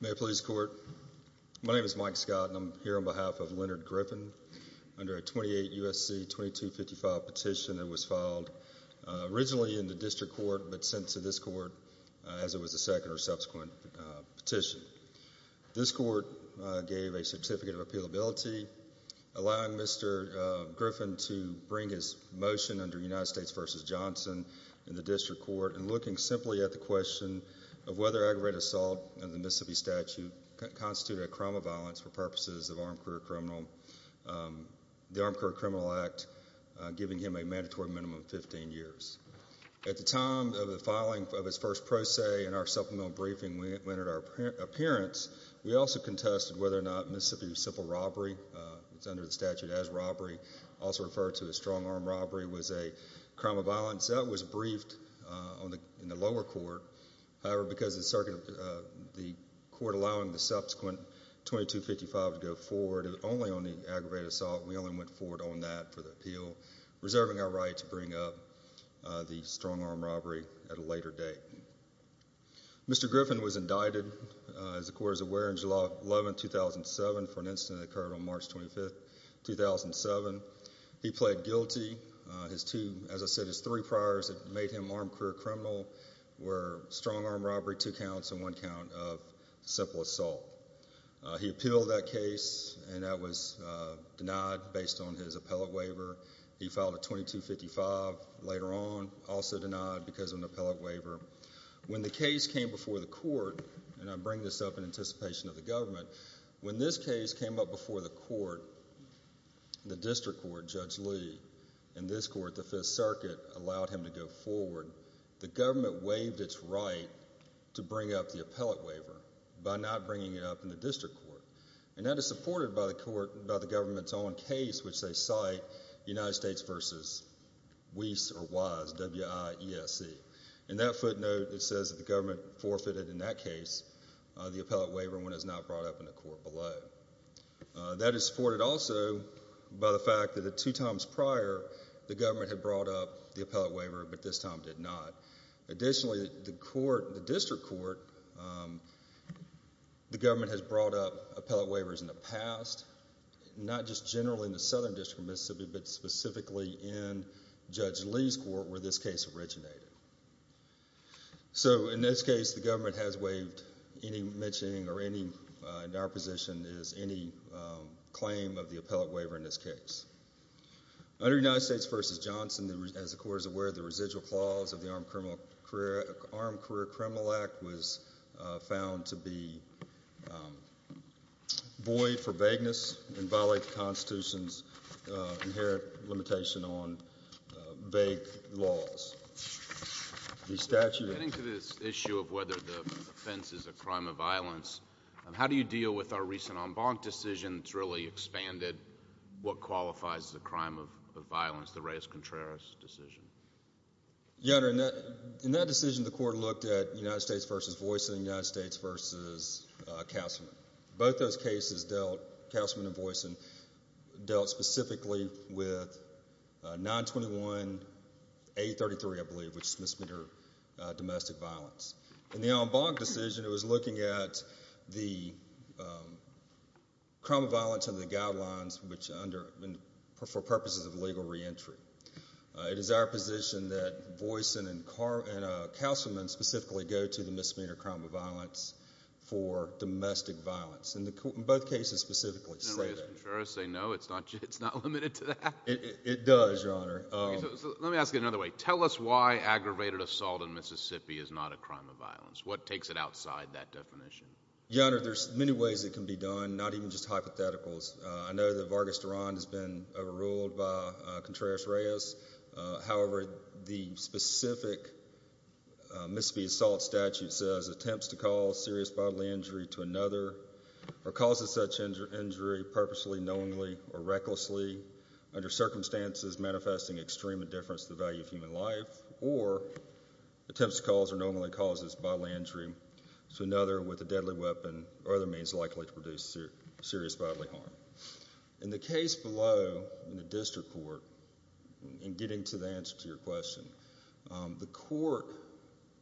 May it please the court, my name is Mike Scott and I'm here on behalf of Leonard Griffin under a 28 U.S.C. 2255 petition that was filed originally in the district court but sent to this court as it was the second or subsequent petition. This court gave a certificate of appealability allowing Mr. Griffin to bring his motion under United States v. Johnson in the district court and looking simply at the question of whether aggravated assault under the Mississippi statute constituted a crime of violence for purposes of armed career criminal, the Armed career criminal act giving him a mandatory minimum of 15 years. At the time of the filing of his first pro se in our supplemental briefing when it entered our appearance we also contested whether or not Mississippi's simple robbery, it's under to a strong armed robbery was a crime of violence that was briefed in the lower court however because the court allowing the subsequent 2255 to go forward only on the aggravated assault we only went forward on that for the appeal reserving our right to bring up the strong armed robbery at a later date. Mr. Griffin was indicted as the court is aware in July 11, 2007 for an incident that occurred on March 25, 2007. He pled guilty, as I said his three priors that made him armed career criminal were strong armed robbery, two counts and one count of simple assault. He appealed that case and that was denied based on his appellate waiver. He filed a 2255 later on also denied because of an appellate waiver. When the case came before the court and I bring this up in anticipation of the government, when this case came up before the court, the district court, Judge Lee and this court, the Fifth Circuit allowed him to go forward, the government waived its right to bring up the appellate waiver by not bringing it up in the district court and that is supported by the court, by the government's own case which they cite, United States vs. Wies, W-I-E-S-E. In that footnote it says the government forfeited in that case, the appellate waiver when it was not brought up in the court below. That is supported also by the fact that the two times prior the government had brought up the appellate waiver but this time did not. Additionally the court, the district court, the government has brought up appellate waivers in the past, not just generally in the Southern District of Mississippi but specifically in Judge Lee's court where this case originated. So, in this case the government has waived any mentioning or any, in our position, is any claim of the appellate waiver in this case. Under United States vs. Johnson, as the court is aware, the residual clause of the Armed Career Criminal Act was found to be void for vagueness and violate the Constitution's inherent limitation on vague laws. The statute of... Getting to this issue of whether the offense is a crime of violence, how do you deal with our recent en banc decision that's really expanded what qualifies as a crime of violence, the Reyes-Contreras decision? Your Honor, in that decision the court looked at United States vs. Voisin and United States vs. Castleman. Both those cases dealt, Castleman and Voisin, dealt specifically with 921A33, I believe, which is misdemeanor domestic violence. In the en banc decision it was looking at the crime of violence under the guidelines which under... for purposes of legal reentry. It is our position that Voisin and Castleman specifically go to the misdemeanor crime of violence. In both cases specifically... Does the Reyes-Contreras say no, it's not limited to that? It does, Your Honor. Let me ask it another way. Tell us why aggravated assault in Mississippi is not a crime of violence. What takes it outside that definition? Your Honor, there's many ways it can be done, not even just hypotheticals. I know that Vargas Duran has been overruled by Contreras-Reyes. However, the specific Mississippi assault statute says attempts to cause serious bodily injury to another or causes such injury purposely, knowingly, or recklessly under circumstances manifesting extreme indifference to the value of human life or attempts to cause or knowingly causes bodily injury to another with a deadly weapon or other means likely to produce serious bodily harm. In the case below, in the district court, in getting to the answer to your question, the court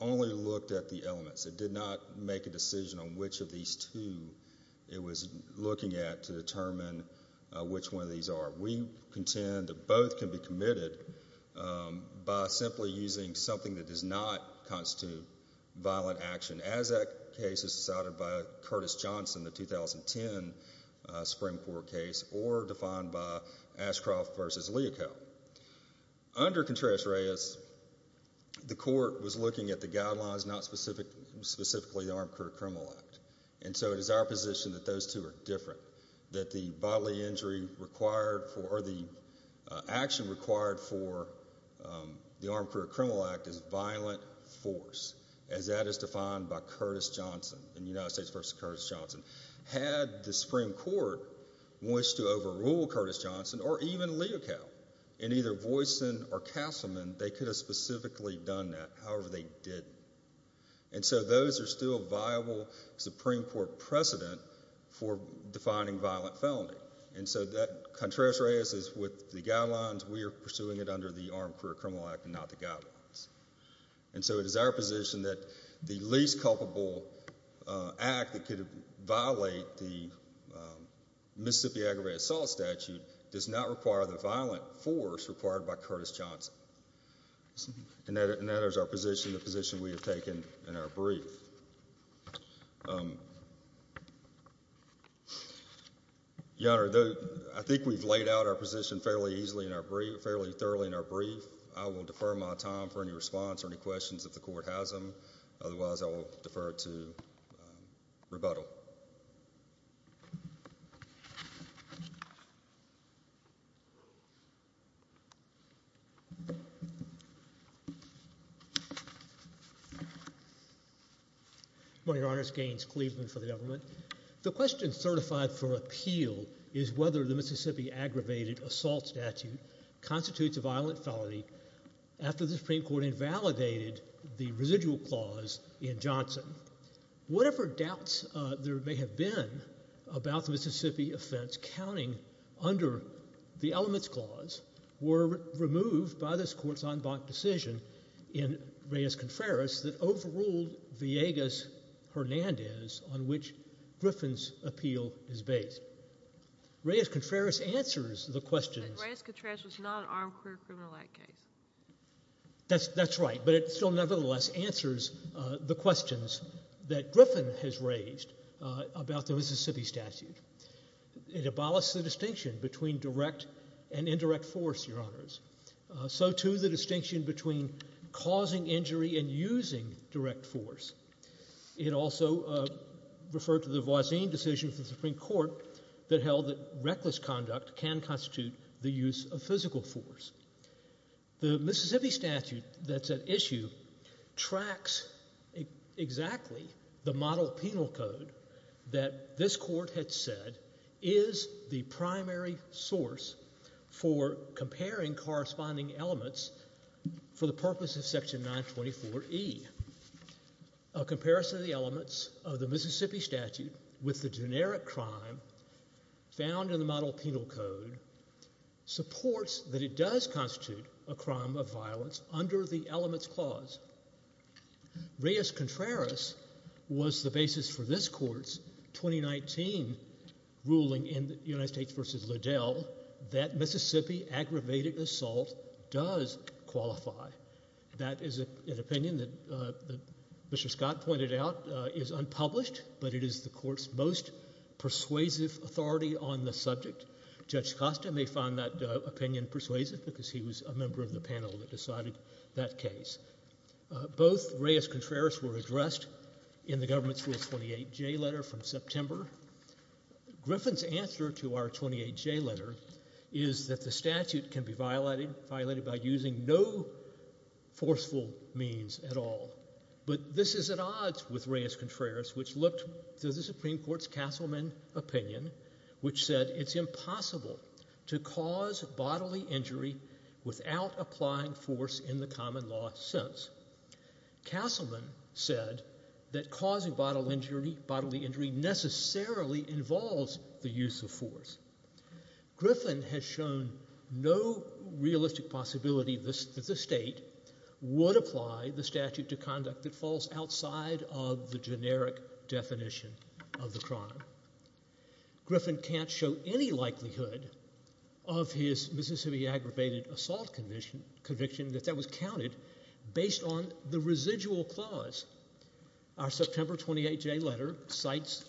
only looked at the elements. It did not make a decision on which of these two it was looking at to determine which one of these are. We contend that both can be committed by simply using something that does not constitute violent action, as that case is decided by Curtis Johnson, the 2010 Supreme Court case, or defined by Ashcroft v. Leaco. Under Contreras-Reyes, the court was looking at the guidelines, not specifically the Armed Career Criminal Act, and so it is our position that those two are different, that the bodily injury required for, or the action required for the Armed Career Criminal Act is violent force, as that is defined by Curtis Johnson in United States v. Curtis Johnson. Had the Supreme Court wished to overrule Curtis Johnson, or even Leaco, in either Voisin or Castleman, they could have specifically done that, however they didn't. And so those are still viable Supreme Court precedent for defining violent felony. And so that Contreras-Reyes is with the guidelines, we are pursuing it under the Armed Career Criminal Act and not the guidelines. And so it is our position that the least culpable act that could violate the Mississippi Aggravated Assault Statute does not require the violent force required by Curtis Johnson. And that is our position, the position we have taken in our brief. Your Honor, I think we've laid out our position fairly easily, fairly thoroughly in our brief. I will defer my time for any response or any questions if the Court has them, otherwise I will defer to rebuttal. Good morning, Your Honor. It's Gaines Cleveland for the government. The question certified for appeal is whether the Mississippi Aggravated Assault Statute constitutes a violent felony after the Supreme Court invalidated the residual clause in Johnson. Whatever doubts there may have been about the Mississippi offense counting under the elements clause were removed by this Court's en banc decision in Reyes-Contreras that overruled Villegas-Hernandez on which Griffin's appeal is based. Reyes-Contreras answers the question. Reyes-Contreras was not an armed criminal act case. That's right, but it still nevertheless answers the questions that Griffin has raised about the Mississippi statute. It abolished the distinction between direct and indirect force, Your Honors. So, too, the distinction between causing injury and using direct force. It also referred to the Voisin decision of the Supreme Court that held that reckless conduct can constitute the use of physical force. The Mississippi statute that's at issue tracks exactly the model penal code that this Court had said is the primary source for comparing corresponding elements for the purpose of Section 924E. A comparison of the elements of the Mississippi statute with the generic crime found in the penal code supports that it does constitute a crime of violence under the elements clause. Reyes-Contreras was the basis for this Court's 2019 ruling in United States v. Liddell that Mississippi aggravated assault does qualify. That is an opinion that Mr. Scott pointed out is unpublished, but it is the Court's persuasive authority on the subject. Judge Costa may find that opinion persuasive because he was a member of the panel that decided that case. Both Reyes-Contreras were addressed in the government's Rule 28J letter from September. Griffin's answer to our 28J letter is that the statute can be violated by using no forceful means at all. But this is at odds with Reyes-Contreras, which looked to the Supreme Court's Castleman opinion, which said it's impossible to cause bodily injury without applying force in the common law sense. Castleman said that causing bodily injury necessarily involves the use of force. Griffin has shown no realistic possibility that the state would apply the statute to conduct that falls outside of the generic definition of the crime. Griffin can't show any likelihood of his Mississippi aggravated assault conviction that that was counted based on the residual clause. Our September 28J letter cites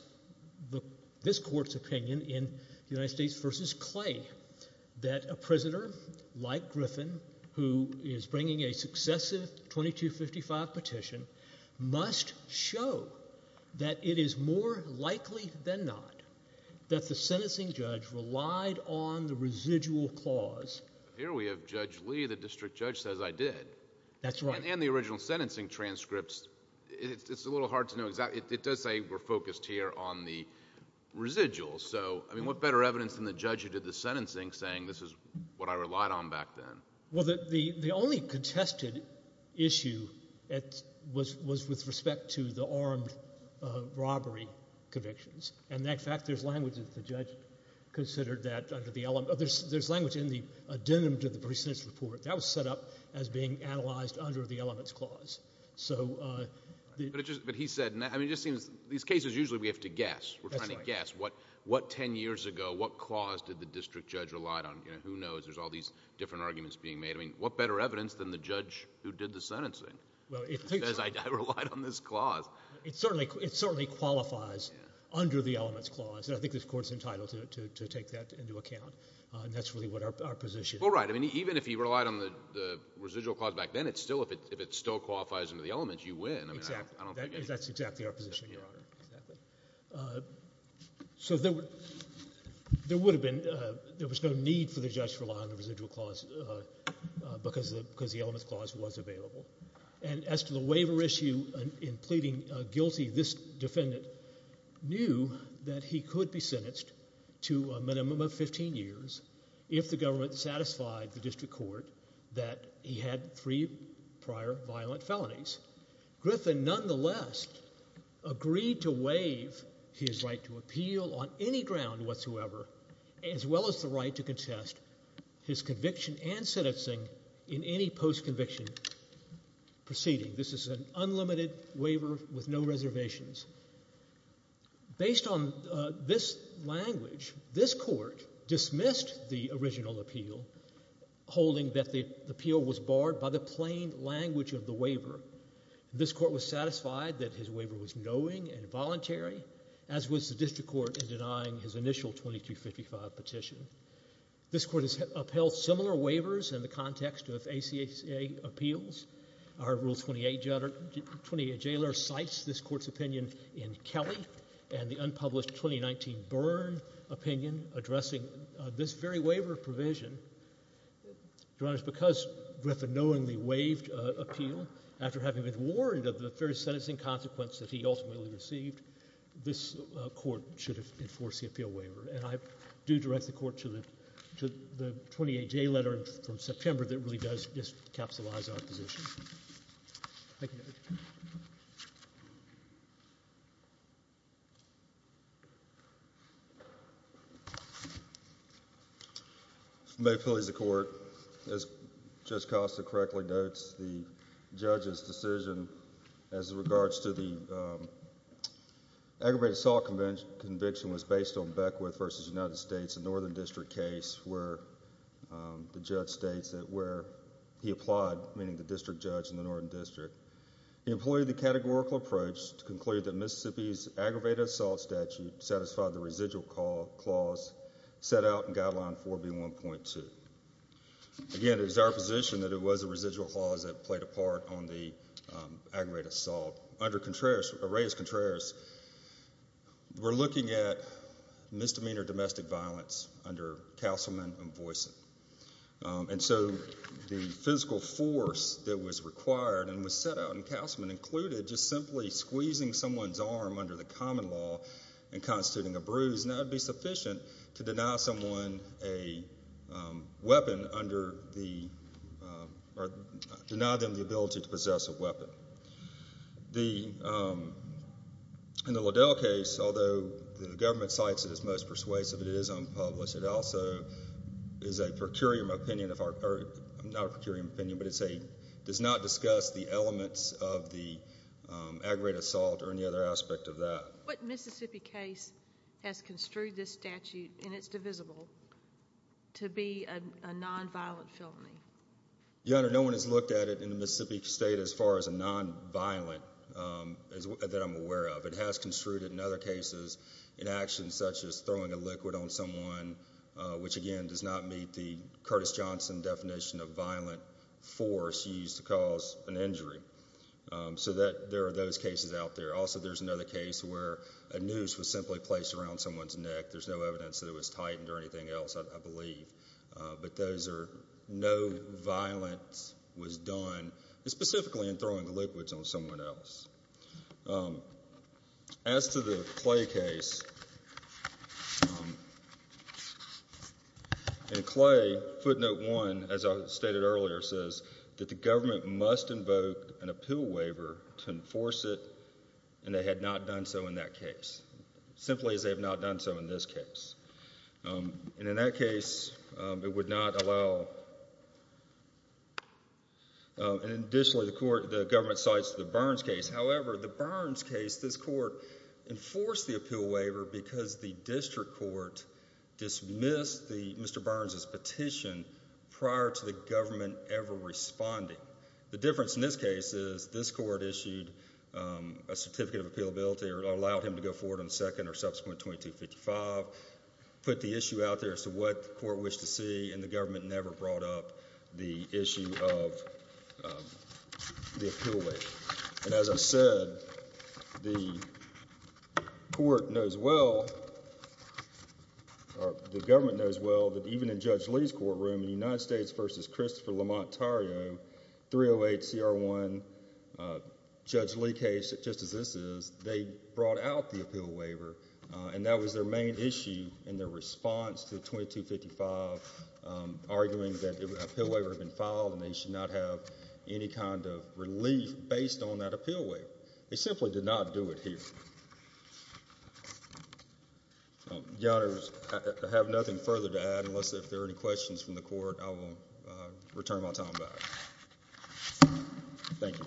this Court's opinion in the United States v. Clay that a prisoner like Griffin, who is bringing a successive 2255 petition, must show that it is more likely than not that the sentencing judge relied on the residual clause. Here we have Judge Lee, the district judge, says, I did. That's right. And the original sentencing transcripts, it's a little hard to know exactly. It does say we're focused here on the residuals. So, I mean, what better evidence than the judge who did the sentencing saying this is what I relied on back then? Well, the only contested issue was with respect to the armed robbery convictions. And in fact, there's language that the judge considered that under the—there's language in the addendum to the precincts report that was set up as being analyzed under the elements clause. But he said, I mean, it just seems these cases usually we have to guess. We're trying to guess what 10 years ago, what clause did the district judge relied on? Who knows? There's all these different arguments being made. I mean, what better evidence than the judge who did the sentencing? Well, it certainly qualifies under the elements clause. And I think this Court's entitled to take that into account. And that's really what our position— Well, right. I mean, even if he relied on the residual clause back then, it's still—if it still qualifies under the elements, you win. I mean, I don't think— That's exactly our position, Your Honor. Exactly. So there would have been—there was no need for the judge to rely on the residual clause because the elements clause was available. And as to the waiver issue in pleading guilty, this defendant knew that he could be sentenced to a minimum of 15 years if the government satisfied the district court that he had three prior violent felonies. Griffin nonetheless agreed to waive his right to appeal on any ground whatsoever, as well as the right to contest his conviction and sentencing in any post-conviction proceeding. This is an unlimited waiver with no reservations. Based on this language, this Court dismissed the original appeal, holding that the appeal was barred by the plain language of the waiver. This Court was satisfied that his waiver was knowing and voluntary, as was the district court in denying his initial 2255 petition. This Court has upheld similar waivers in the context of ACCA appeals. Our Rule 28—28J letter cites this Court's opinion in Kelly and the unpublished 2019 Byrne opinion addressing this very waiver provision. Your Honor, because Griffin knowingly waived appeal after having been warned of the fair sentencing consequence that he ultimately received, this Court should enforce the appeal waiver. And I do direct the Court to the—to the 28J letter from September that really does capsulize our position. May it please the Court, as Judge Costa correctly notes, the judge's decision as regards to the aggravated assault conviction was based on Beckwith v. United States, a Northern He applied, meaning the district judge in the Northern District. He employed the categorical approach to conclude that Mississippi's aggravated assault statute satisfied the residual clause set out in Guideline 4B1.2. Again, it is our position that it was a residual clause that played a part on the aggravated assault. Under Contreras—Reyes-Contreras, we're looking at misdemeanor domestic violence under Castleman v. Voisin. And so the physical force that was required and was set out in Castleman included just simply squeezing someone's arm under the common law and constituting a bruise. Now, it would be sufficient to deny someone a weapon under the—or deny them the ability to possess a weapon. The—in the Liddell case, although the government cites it as most persuasive, it is unpublished. It also is a per curiam opinion of our—or not a per curiam opinion, but it's a—does not discuss the elements of the aggravated assault or any other aspect of that. What Mississippi case has construed this statute, and it's divisible, to be a nonviolent felony? Your Honor, no one has looked at it in the Mississippi state as far as a nonviolent that I'm aware of. It has construed it in other cases in actions such as throwing a liquid on someone, which again does not meet the Curtis Johnson definition of violent force used to cause an injury. So that—there are those cases out there. Also, there's another case where a noose was simply placed around someone's neck. There's no evidence that it was tightened or anything else, I believe. But those are—no violence was done specifically in throwing liquids on someone else. As to the Clay case, in Clay, footnote one, as I stated earlier, says that the government must invoke an appeal waiver to enforce it, and they had not done so in that case, simply as they have not done so in this case. And in that case, it would not allow—and additionally, the court—the government cites the Burns case. However, the Burns case, this court enforced the appeal waiver because the district court dismissed the—Mr. Burns' petition prior to the government ever responding. The difference in this case is this court issued a certificate of appealability or allowed him to go forward on the second or subsequent 2255, put the issue out there as to what the court wished to see, and the government never brought up the issue of the appeal waiver. And as I said, the court knows well—or the government knows well that even in Judge Lee's courtroom in United States v. Christopher Lamont Tarrio, 308 CR1, Judge Lee case, just as this is, they brought out the appeal waiver, and that was their main issue in their response to the 2255, arguing that the appeal waiver had been filed and they should not have any kind of relief based on that appeal waiver. They simply did not do it here. Your Honors, I have nothing further to add. Unless there are any questions from the court, I will return my time back. Thank you.